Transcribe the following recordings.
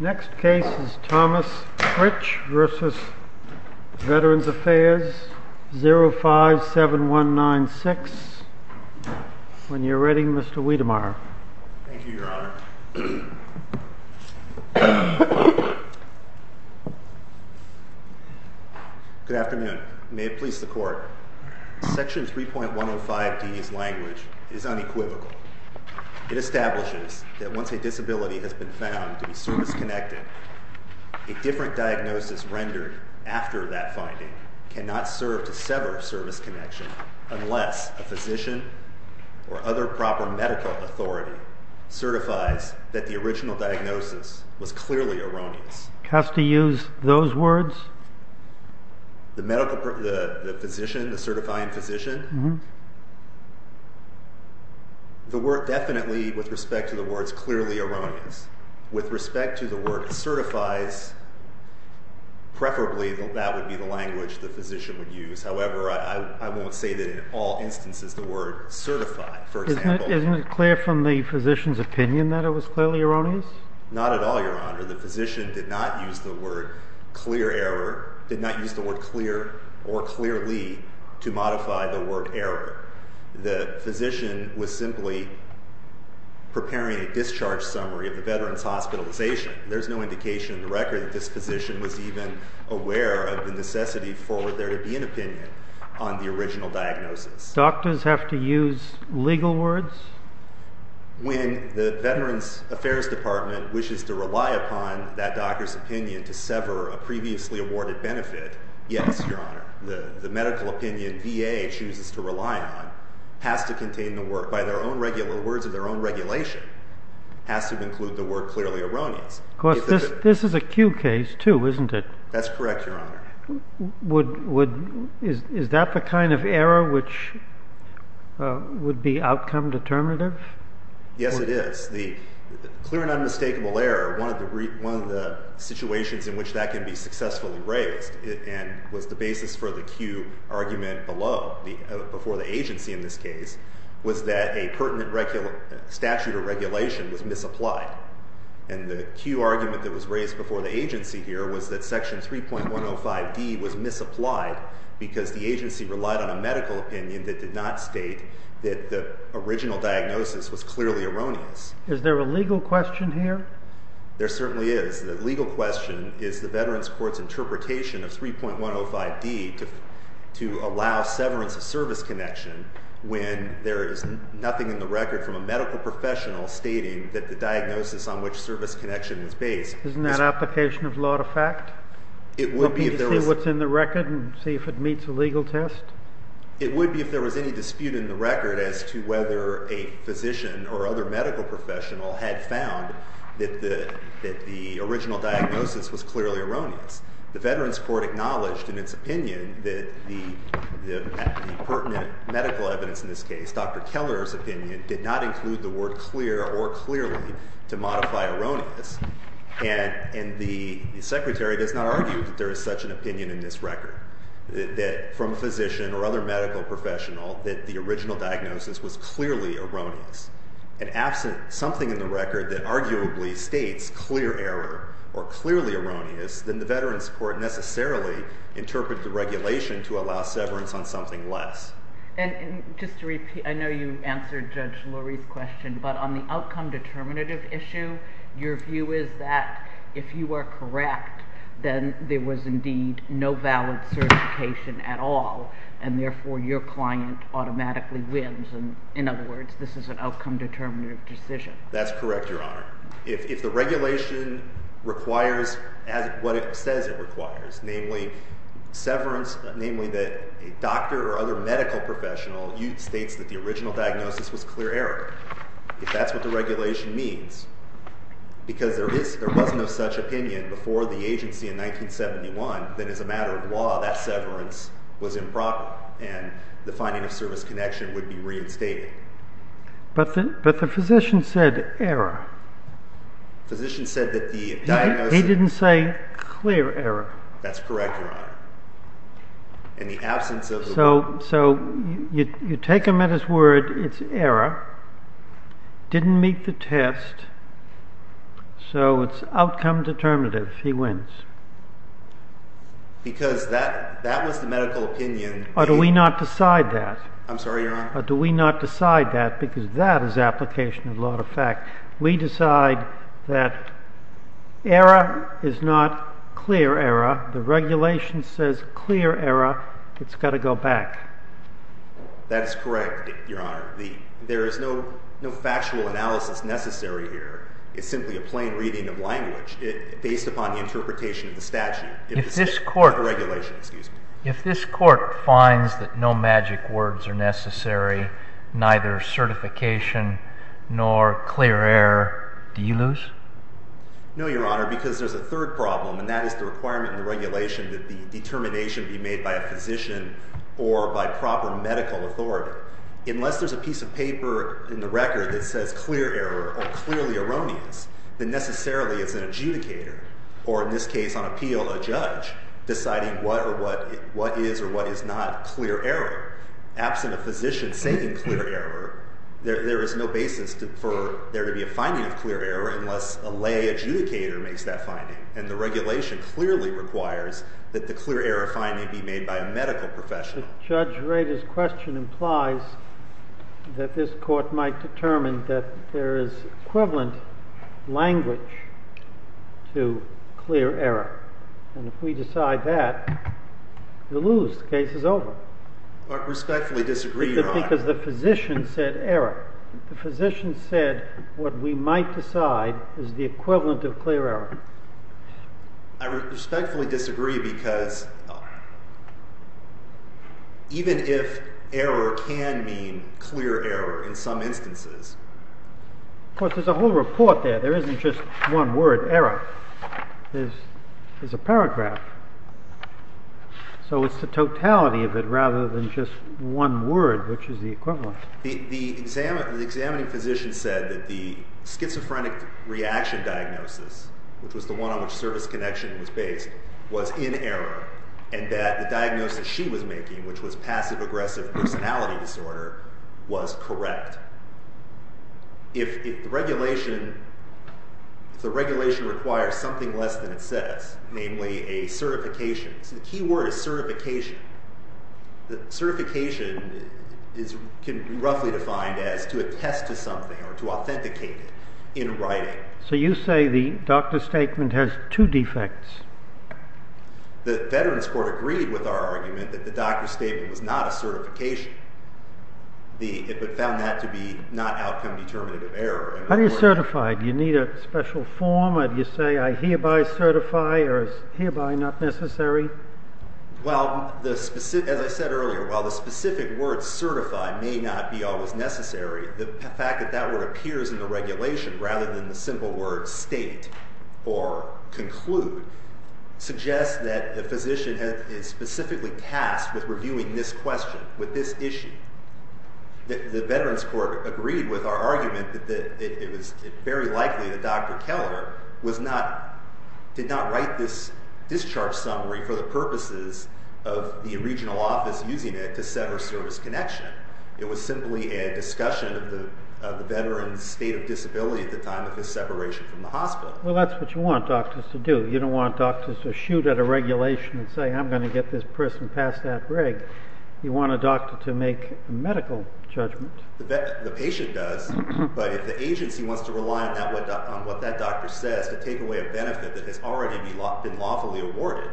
Next case is Thomas Fritsch v. Veterans Affairs, 057196. When you're ready, Mr. Wiedemeyer. Thank you, Your Honor. Good afternoon. May it please the Court, Section 3.105D's language is unequivocal. It establishes that once a disability has been found to be service-connected, a different diagnosis rendered after that finding cannot serve to sever service connection unless a physician or other proper medical authority certifies that the original diagnosis was clearly erroneous. Has to use those words? The physician, the certifying physician? Uh-huh. The word definitely, with respect to the words, clearly erroneous. With respect to the word certifies, preferably that would be the language the physician would use. However, I won't say that in all instances the word certify, for example. Isn't it clear from the physician's opinion that it was clearly erroneous? Not at all, Your Honor. The physician did not use the word clear or clearly to modify the word error. The physician was simply preparing a discharge summary of the veteran's hospitalization. There's no indication in the record that this physician was even aware of the necessity for there to be an opinion on the original diagnosis. Doctors have to use legal words? When the Veterans Affairs Department wishes to rely upon that doctor's opinion to sever a previously awarded benefit, yes, Your Honor. The medical opinion VA chooses to rely on has to contain the word, by their own regular words of their own regulation, has to include the word clearly erroneous. Of course, this is a Q case, too, isn't it? That's correct, Your Honor. Is that the kind of error which would be outcome determinative? Yes, it is. The clear and unmistakable error, one of the situations in which that can be successfully raised and was the basis for the Q argument below, before the agency in this case, was that a pertinent statute or regulation was misapplied. And the Q argument that was raised before the agency here was that Section 3.105D was misapplied because the agency relied on a medical opinion that did not state that the original diagnosis was clearly erroneous. Is there a legal question here? There certainly is. The legal question is the Veterans Court's interpretation of 3.105D to allow severance of service connection when there is nothing in the record from a medical professional stating that the diagnosis on which service connection is based. Isn't that application of law to fact? It would be if there was... Looking to see what's in the record and see if it meets a legal test? It would be if there was any dispute in the record as to whether a physician or other medical professional had found that the original diagnosis was clearly erroneous. The Veterans Court acknowledged in its opinion that the pertinent medical evidence in this case, Dr. Keller's opinion, did not include the word clear or clearly to modify erroneous. And the Secretary does not argue that there is such an opinion in this record that from a physician or other medical professional that the original diagnosis was clearly erroneous. And absent something in the record that arguably states clear error or clearly erroneous, then the Veterans Court necessarily interprets the regulation to allow severance on something less. And just to repeat, I know you answered Judge Lurie's question, but on the outcome determinative issue, your view is that if you are correct, then there was indeed no valid certification at all. And therefore, your client automatically wins. In other words, this is an outcome determinative decision. That's correct, Your Honor. If the regulation requires what it says it requires, namely severance, namely that a doctor or other medical professional states that the original diagnosis was clear error. If that's what the regulation means, because there was no such opinion before the agency in 1971, then as a matter of law, that severance was improper. And the finding of service connection would be reinstated. But the physician said error. Physician said that the diagnosis- He didn't say clear error. That's correct, Your Honor. In the absence of the- So you take him at his word, it's error, didn't meet the test, so it's outcome determinative, he wins. Because that was the medical opinion- Or do we not decide that? I'm sorry, Your Honor. Do we not decide that? Because that is application of law to fact. We decide that error is not clear error. The regulation says clear error. It's got to go back. That is correct, Your Honor. There is no factual analysis necessary here. It's simply a plain reading of language based upon the interpretation of the statute- If this court- Of the regulation, excuse me. If this court finds that no magic words are necessary, neither certification nor clear error, do you lose? No, Your Honor, because there's a third problem, and that is the requirement in the regulation that the determination be made by a physician or by proper medical authority. Unless there's a piece of paper in the record that says clear error or clearly erroneous, then necessarily it's an adjudicator, or in this case on appeal, a judge, deciding what is or what is not clear error. Absent a physician saying clear error, there is no basis for there to be a finding of clear error unless a lay adjudicator makes that finding. And the regulation clearly requires that the clear error finding be made by a medical professional. But Judge Rader's question implies that this court might determine that there is equivalent language to clear error. And if we decide that, you lose. The case is over. I respectfully disagree, Your Honor. Because the physician said error. The physician said what we might decide is the equivalent of clear error. I respectfully disagree because even if error can mean clear error in some instances— Of course, there's a whole report there. There isn't just one word, error. There's a paragraph. So it's the totality of it rather than just one word, which is the equivalent. The examining physician said that the schizophrenic reaction diagnosis, which was the one on which service connection was based, was in error, and that the diagnosis she was making, which was passive-aggressive personality disorder, was correct. If the regulation requires something less than it says, namely a certification— it can be roughly defined as to attest to something or to authenticate it in writing. So you say the doctor's statement has two defects. The Veterans Court agreed with our argument that the doctor's statement was not a certification. It found that to be not outcome-determinative error. How do you certify? Do you need a special form? Do you say, I hereby certify, or is hereby not necessary? Well, as I said earlier, while the specific word certify may not be always necessary, the fact that that word appears in the regulation rather than the simple word state or conclude suggests that the physician is specifically tasked with reviewing this question, with this issue. The Veterans Court agreed with our argument that it was very likely that Dr. Keller did not write this discharge summary for the purposes of the regional office using it to set her service connection. It was simply a discussion of the veteran's state of disability at the time of his separation from the hospital. Well, that's what you want doctors to do. You don't want doctors to shoot at a regulation and say, I'm going to get this person past that rig. You want a doctor to make a medical judgment. The patient does, but if the agency wants to rely on what that doctor says to take away a benefit that has already been lawfully awarded,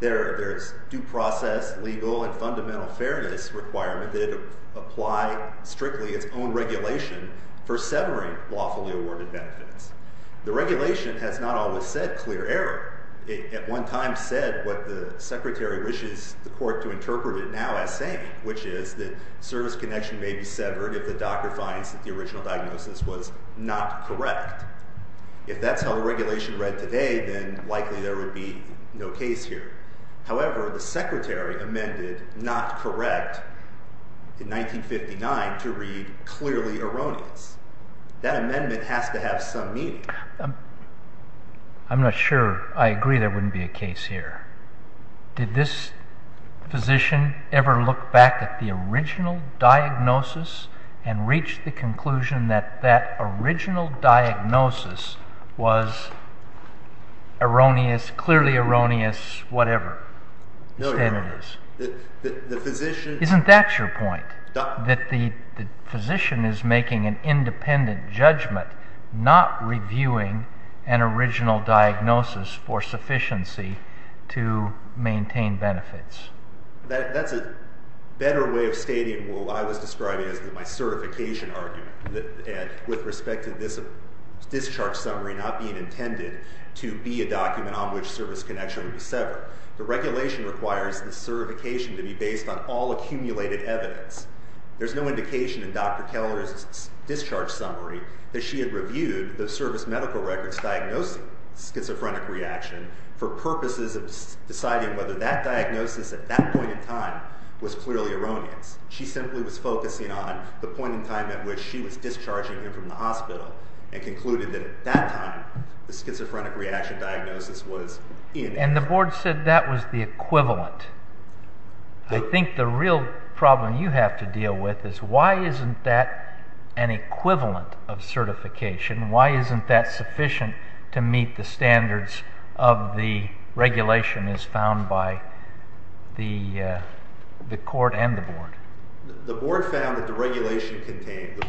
there's due process, legal, and fundamental fairness requirement that it apply strictly its own regulation for severing lawfully awarded benefits. The regulation has not always said clear error. It at one time said what the secretary wishes the court to interpret it now as saying, which is that service connection may be severed if the doctor finds that the original diagnosis was not correct. If that's how the regulation read today, then likely there would be no case here. However, the secretary amended not correct in 1959 to read clearly erroneous. That amendment has to have some meaning. I'm not sure I agree there wouldn't be a case here. Did this physician ever look back at the original diagnosis and reach the conclusion that that original diagnosis was erroneous, clearly erroneous, whatever? No, Your Honor. Isn't that your point? That the physician is making an independent judgment, not reviewing an original diagnosis for sufficiency to maintain benefits. That's a better way of stating what I was describing as my certification argument with respect to this discharge summary not being intended to be a document on which service connection would be severed. The regulation requires the certification to be based on all accumulated evidence. There's no indication in Dr. Keller's discharge summary that she had reviewed the service medical records diagnosing schizophrenic reaction for purposes of deciding whether that diagnosis at that point in time was clearly erroneous. She simply was focusing on the point in time at which she was discharging him from the hospital and concluded that at that time the schizophrenic reaction diagnosis was inerrant. And the board said that was the equivalent. I think the real problem you have to deal with is why isn't that an equivalent of certification? Why isn't that sufficient to meet the standards of the regulation as found by the court and the board? The board found that the regulation contained,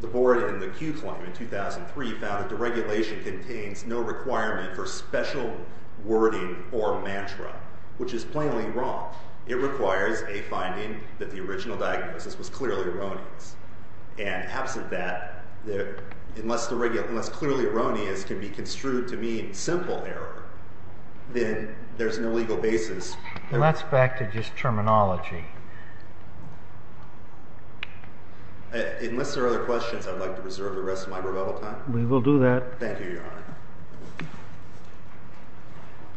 the board in the Q claim in 2003 found that the regulation contains no requirement for special wording or mantra, which is plainly wrong. It requires a finding that the original diagnosis was clearly erroneous. And absent that, unless clearly erroneous can be construed to mean simple error, then there's no legal basis. Well, that's back to just terminology. Unless there are other questions, I'd like to reserve the rest of my rebuttal time. We will do that. Thank you, Your Honor.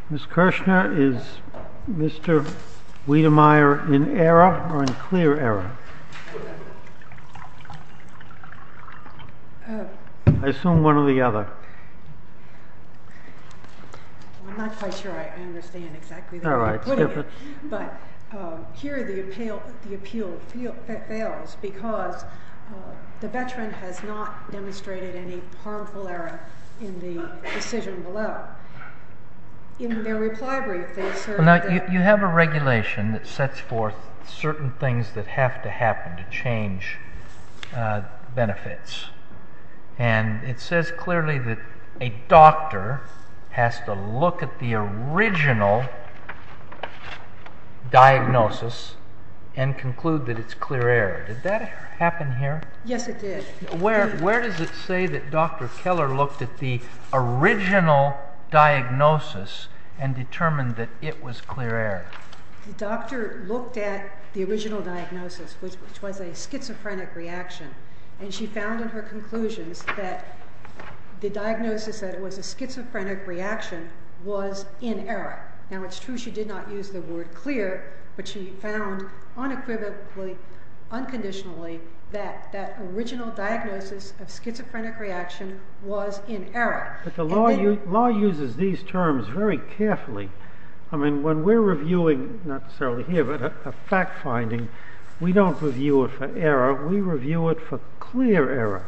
Ms. Kirshner, is Mr. Wiedemeyer in error or in clear error? I assume one or the other. I'm not quite sure I understand exactly where you're putting it. All right. Skip it. But here the appeal fails because the veteran has not demonstrated any harmful error in the decision below. In their reply brief, they assert that- You have a regulation that sets forth certain things that have to happen to change benefits. And it says clearly that a doctor has to look at the original diagnosis and conclude that it's clear error. Did that happen here? Yes, it did. Where does it say that Dr. Keller looked at the original diagnosis and determined that it was clear error? The doctor looked at the original diagnosis, which was a schizophrenic reaction, and she found in her conclusions that the diagnosis that it was a schizophrenic reaction was in error. Now, it's true she did not use the word clear, but she found unequivocally, unconditionally, that that original diagnosis of schizophrenic reaction was in error. But the law uses these terms very carefully. I mean, when we're reviewing, not necessarily here, but a fact finding, we don't review it for error. We review it for clear error.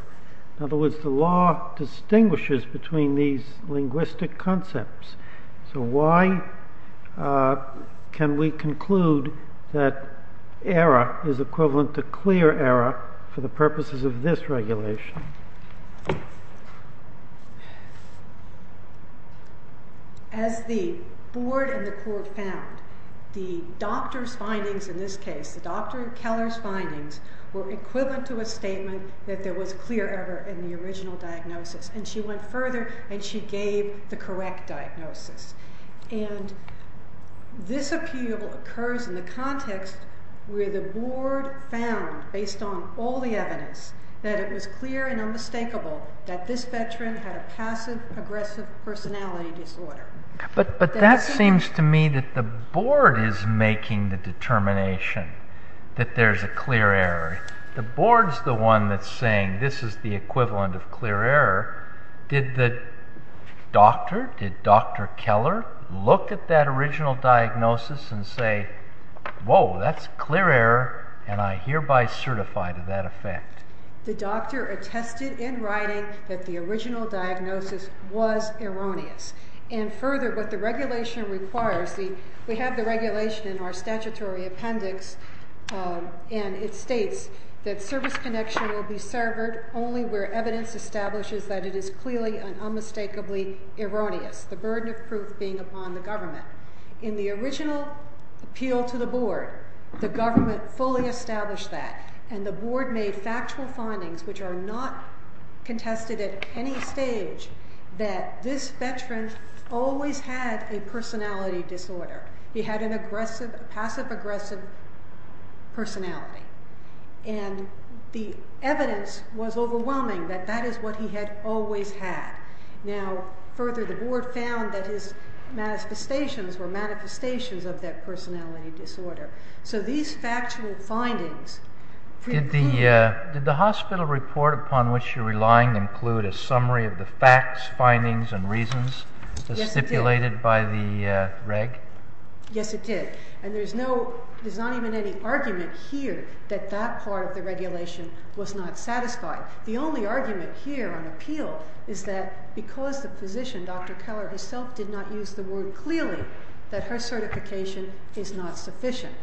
In other words, the law distinguishes between these linguistic concepts. So why can we conclude that error is equivalent to clear error for the purposes of this regulation? As the board and the court found, the doctor's findings in this case, the Dr. Keller's findings, were equivalent to a statement that there was clear error in the original diagnosis. And she went further, and she gave the correct diagnosis. And this appeal occurs in the context where the board found, based on all the evidence, that it was clear and unmistakable that this veteran had a passive-aggressive personality disorder. But that seems to me that the board is making the determination that there's a clear error. The board's the one that's saying this is the equivalent of clear error. Did the doctor, did Dr. Keller, look at that original diagnosis and say, whoa, that's clear error, and I hereby certify to that effect? The doctor attested in writing that the original diagnosis was erroneous. And further, what the regulation requires, we have the regulation in our statutory appendix, and it states that service connection will be severed only where evidence establishes that it is clearly and unmistakably erroneous, the burden of proof being upon the government. In the original appeal to the board, the government fully established that, and the board made factual findings which are not contested at any stage that this veteran always had a personality disorder. He had a passive-aggressive personality, and the evidence was overwhelming that that is what he had always had. Now, further, the board found that his manifestations were manifestations of that personality disorder. So these factual findings... Did the hospital report upon which you're relying include a summary of the facts, findings, and reasons as stipulated by the reg? Yes, it did. And there's not even any argument here that that part of the regulation was not satisfied. The only argument here on appeal is that because the physician, Dr. Keller, herself did not use the word clearly, that her certification is not sufficient.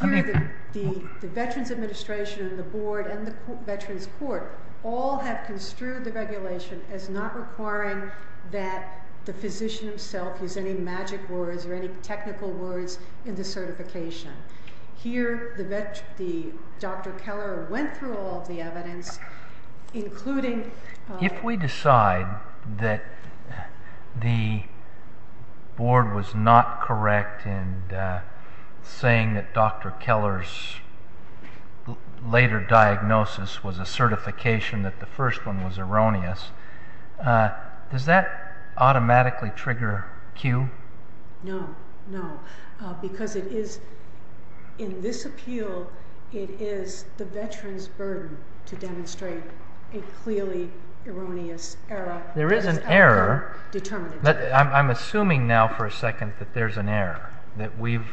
Here, the Veterans Administration and the board and the Veterans Court all have construed the regulation as not requiring that the physician himself use any magic words or any technical words in the certification. Here, Dr. Keller went through all of the evidence, including... saying that Dr. Keller's later diagnosis was a certification that the first one was erroneous. Does that automatically trigger cue? No, no. Because in this appeal, it is the veteran's burden to demonstrate a clearly erroneous error. There is an error. I'm assuming now for a second that there's an error, that we've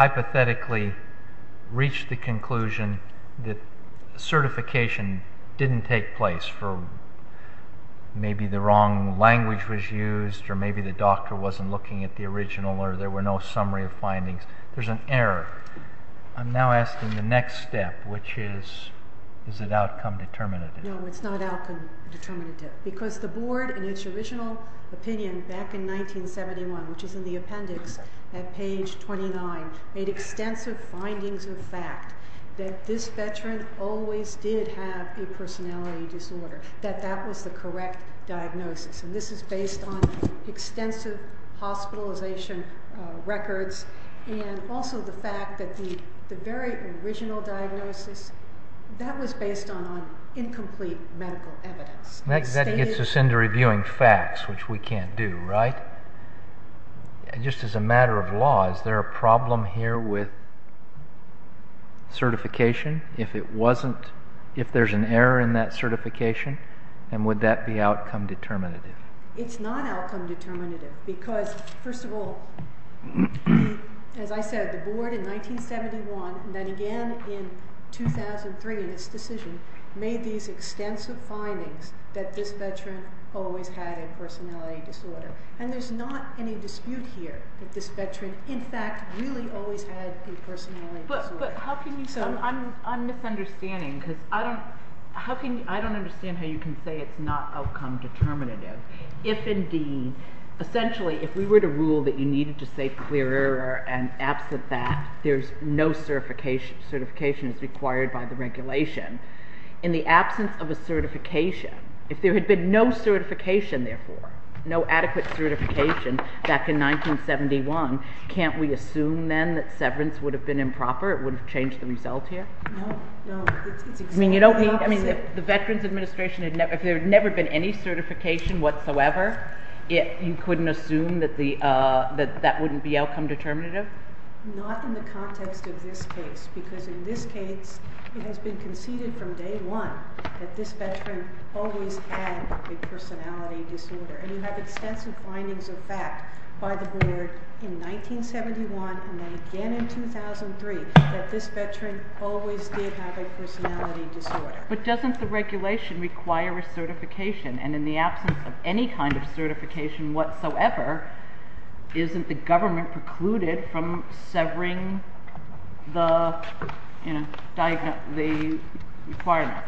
hypothetically reached the conclusion that certification didn't take place for maybe the wrong language was used or maybe the doctor wasn't looking at the original or there were no summary of findings. There's an error. I'm now asking the next step, which is, is it outcome determinative? No, it's not outcome determinative. Because the board in its original opinion back in 1971, which is in the appendix at page 29, made extensive findings of fact that this veteran always did have a personality disorder, that that was the correct diagnosis. And this is based on extensive hospitalization records and also the fact that the very original diagnosis, that was based on incomplete medical evidence. That gets us into reviewing facts, which we can't do, right? Just as a matter of law, is there a problem here with certification? If there's an error in that certification, then would that be outcome determinative? It's not outcome determinative. Because, first of all, as I said, the board in 1971, and then again in 2003 in its decision, made these extensive findings that this veteran always had a personality disorder. And there's not any dispute here that this veteran, in fact, really always had a personality disorder. But how can you say? I'm misunderstanding because I don't understand how you can say it's not outcome determinative. If, indeed, essentially if we were to rule that you needed to say clear error and absent that, there's no certification as required by the regulation, in the absence of a certification, if there had been no certification, therefore, no adequate certification back in 1971, can't we assume then that severance would have been improper? It would have changed the result here? No. I mean, the Veterans Administration, if there had never been any certification whatsoever, you couldn't assume that that wouldn't be outcome determinative? Not in the context of this case, because in this case it has been conceded from day one that this veteran always had a personality disorder. And you have extensive findings of fact by the board in 1971 and then again in 2003 that this veteran always did have a personality disorder. But doesn't the regulation require a certification? And in the absence of any kind of certification whatsoever, isn't the government precluded from severing the requirement?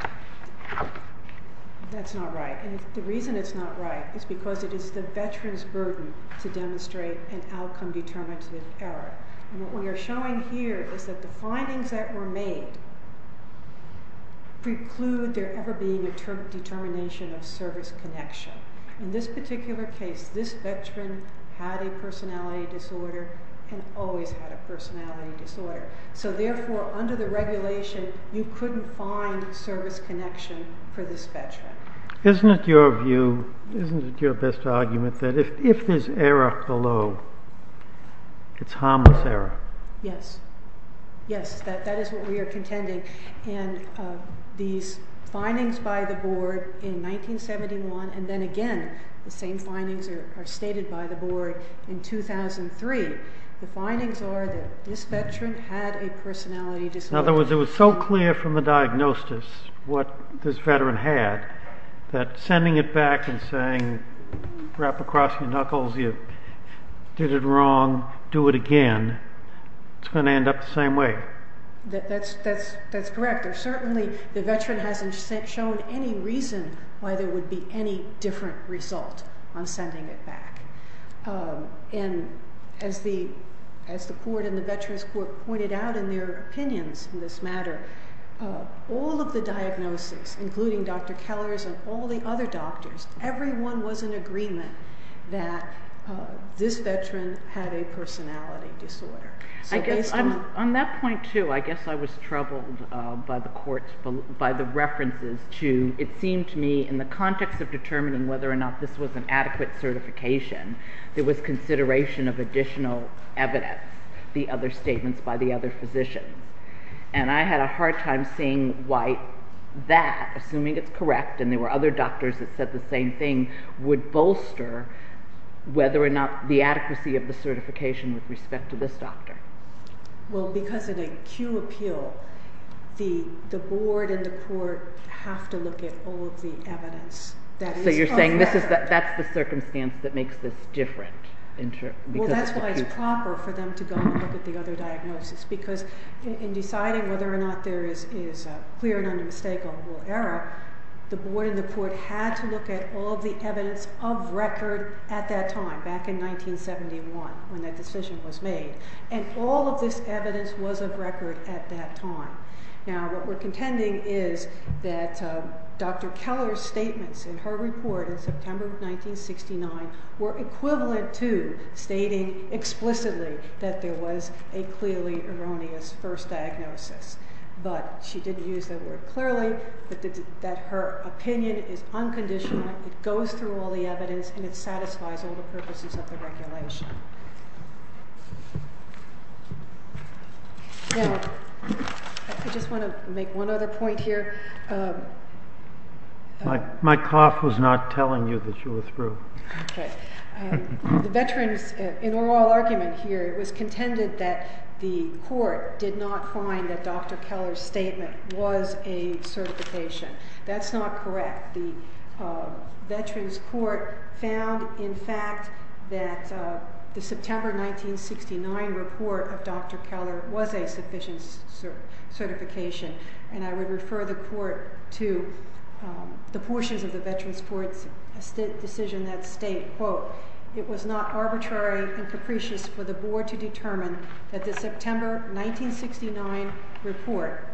That's not right. And the reason it's not right is because it is the veteran's burden to demonstrate an outcome determinative error. And what we are showing here is that the findings that were made preclude there ever being a determination of service connection. In this particular case, this veteran had a personality disorder and always had a personality disorder. So therefore, under the regulation, you couldn't find service connection for this veteran. Isn't it your view, isn't it your best argument that if there's error below, it's harmless error? Yes. Yes, that is what we are contending. And these findings by the board in 1971 and then again, the same findings are stated by the board in 2003. The findings are that this veteran had a personality disorder. In other words, it was so clear from the diagnosis what this veteran had that sending it back and saying, wrap across your knuckles, you did it wrong, do it again, it's going to end up the same way. That's correct. Certainly, the veteran hasn't shown any reason why there would be any different result on sending it back. And as the board and the veteran's board pointed out in their opinions in this matter, all of the diagnoses, including Dr. Keller's and all the other doctors, everyone was in agreement that this veteran had a personality disorder. On that point, too, I guess I was troubled by the references to, it seemed to me in the context of determining whether or not this was an adequate certification, there was consideration of additional evidence, the other statements by the other physician. And I had a hard time seeing why that, assuming it's correct, and there were other doctors that said the same thing, would bolster whether or not the adequacy of the certification with respect to this doctor. Well, because in a Q appeal, the board and the court have to look at all of the evidence. So you're saying that's the circumstance that makes this different? Well, that's why it's proper for them to go and look at the other diagnosis, because in deciding whether or not there is a clear and unmistakable error, the board and the court had to look at all of the evidence of record at that time, back in 1971, when that decision was made. And all of this evidence was of record at that time. Now, what we're contending is that Dr. Keller's statements in her report in September of 1969 were equivalent to stating explicitly that there was a clearly erroneous first diagnosis. But she didn't use that word clearly, but that her opinion is unconditional, it goes through all the evidence, and it satisfies all the purposes of the regulation. Now, I just want to make one other point here. My cough was not telling you that you were through. The veterans' in all argument here, it was contended that the court did not find that Dr. Keller's statement was a certification. That's not correct. The veterans' court found, in fact, that the September 1969 report of Dr. Keller was a sufficient certification, and I would refer the court to the portions of the veterans' court's decision that state, quote, it was not arbitrary and capricious for the board to determine that the September 1969 report,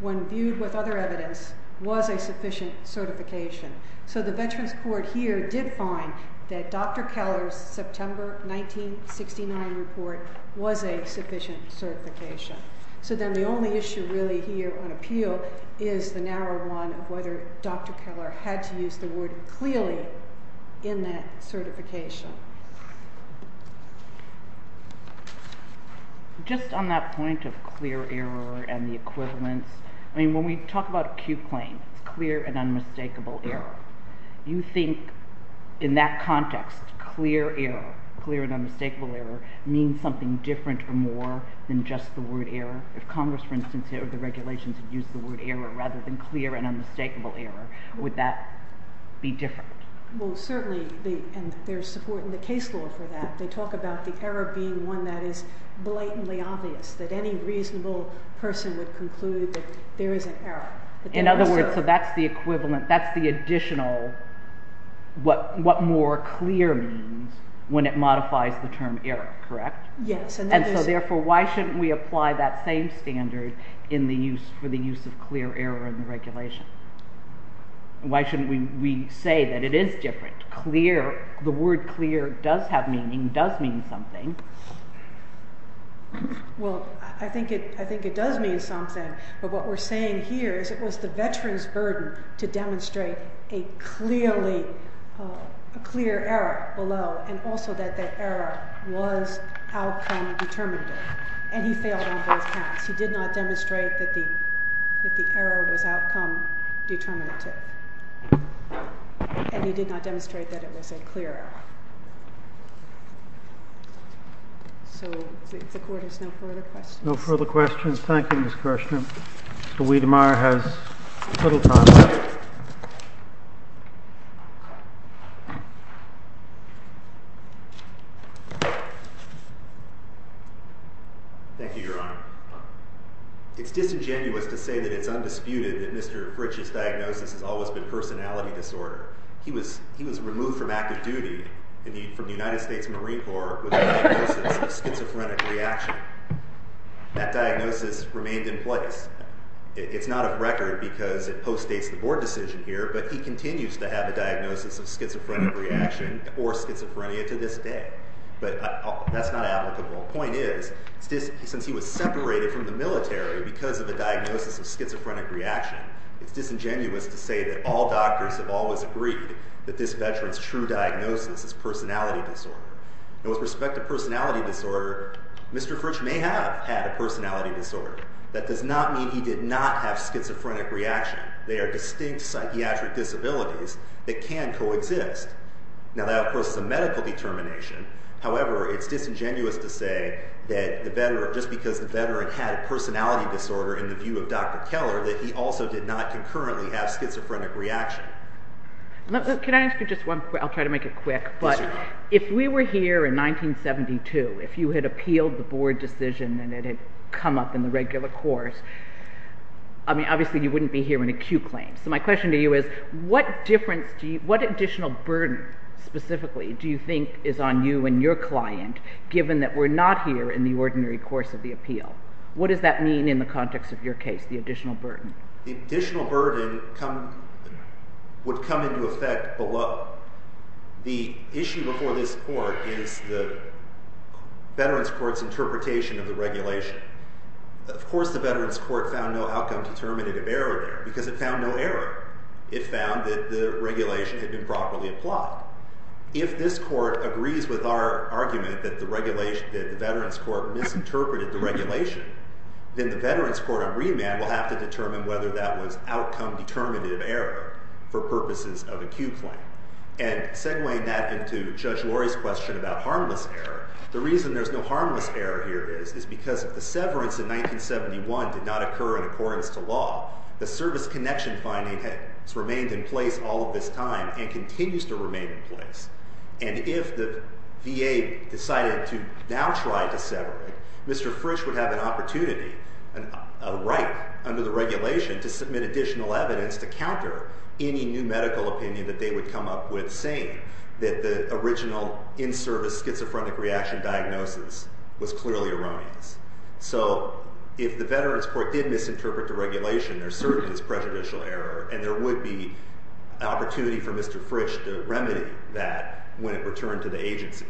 when viewed with other evidence, was a sufficient certification. So the veterans' court here did find that Dr. Keller's September 1969 report was a sufficient certification. So then the only issue really here on appeal is the narrow one of whether Dr. Keller had to use the word clearly in that certification. Just on that point of clear error and the equivalence, I mean, when we talk about acute claims, clear and unmistakable error, you think in that context, clear error, clear and unmistakable error, means something different or more than just the word error? If Congress, for instance, or the regulations had used the word error rather than clear and unmistakable error, would that be different? Well, certainly, and there's support in the case law for that. They talk about the error being one that is blatantly obvious, that any reasonable person would conclude that there is an error. In other words, so that's the equivalent, that's the additional, what more clear means when it modifies the term error, correct? Yes. And so therefore, why shouldn't we apply that same standard in the use, for the use of clear error in the regulation? Why shouldn't we say that it is different? Clear, the word clear does have meaning, does mean something. Well, I think it does mean something, but what we're saying here is it was the veteran's burden to demonstrate a clear error below, and also that that error was outcome-determinative, and he failed on both counts. He did not demonstrate that the error was outcome-determinative, and he did not demonstrate that it was a clear error. So the Court has no further questions. No further questions. Thank you, Ms. Kirshner. Mr. Wedemeyer has total time left. Thank you, Your Honor. It's disingenuous to say that it's undisputed that Mr. Fritch's diagnosis has always been personality disorder. He was removed from active duty from the United States Marine Corps with a diagnosis of schizophrenic reaction. That diagnosis remained in place. It's not a record because it postdates the Board decision here, but he continues to have a diagnosis of schizophrenic reaction or schizophrenia to this day. But that's not applicable. The point is, since he was separated from the military because of a diagnosis of schizophrenic reaction, it's disingenuous to say that all doctors have always agreed that this veteran's true diagnosis is personality disorder. And with respect to personality disorder, Mr. Fritch may have had a personality disorder. That does not mean he did not have schizophrenic reaction. They are distinct psychiatric disabilities that can coexist. Now, that, of course, is a medical determination. However, it's disingenuous to say that just because the veteran had a personality disorder in the view of Dr. Keller that he also did not concurrently have schizophrenic reaction. Can I ask you just one thing? I'll try to make it quick. But if we were here in 1972, if you had appealed the Board decision and it had come up in the regular course, obviously you wouldn't be hearing acute claims. So my question to you is, what additional burden specifically do you think is on you and your client given that we're not here in the ordinary course of the appeal? What does that mean in the context of your case, the additional burden? The additional burden would come into effect below. The issue before this court is the veterans' court's interpretation of the regulation. Of course the veterans' court found no outcome-determinative error there because it found no error. It found that the regulation had been properly applied. If this court agrees with our argument that the veterans' court misinterpreted the regulation, then the veterans' court on remand will have to determine whether that was outcome-determinative error for purposes of acute claim. And segueing that into Judge Lurie's question about harmless error, the reason there's no harmless error here is because if the severance in 1971 did not occur in accordance to law, the service connection finding has remained in place all of this time and continues to remain in place. And if the VA decided to now try to sever it, Mr. Frisch would have an opportunity, a right under the regulation, to submit additional evidence to counter any new medical opinion that they would come up with saying that the original in-service schizophrenic reaction diagnosis was clearly erroneous. So if the veterans' court did misinterpret the regulation, there certainly is prejudicial error, and there would be an opportunity for Mr. Frisch to remedy that when it returned to the agency.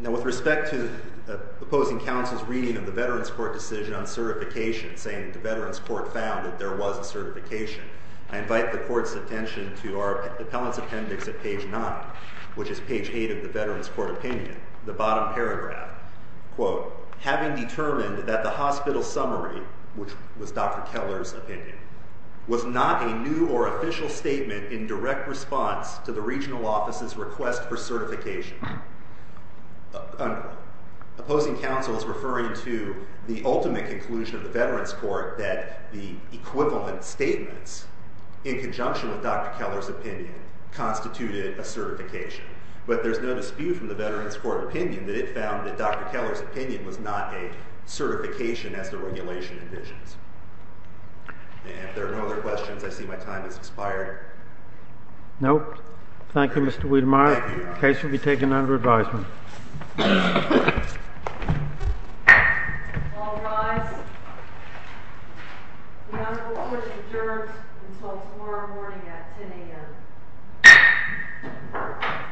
Now with respect to the opposing counsel's reading of the veterans' court decision on certification, saying the veterans' court found that there was a certification, I invite the court's attention to our appellant's appendix at page 9, which is page 8 of the veterans' court opinion, the bottom paragraph. Quote, having determined that the hospital summary, which was Dr. Keller's opinion, was not a new or official statement in direct response to the regional office's request for certification. Opposing counsel is referring to the ultimate conclusion of the veterans' court that the equivalent statements in conjunction with Dr. Keller's opinion constituted a certification. But there's no dispute from the veterans' court opinion that it found that Dr. Keller's opinion was not a certification as the regulation envisions. If there are no other questions, I see my time has expired. Nope. Thank you, Mr. Wiedemeyer. The case will be taken under advisement. All rise. The Honorable Court adjourns until tomorrow morning at 10 a.m. Thank you.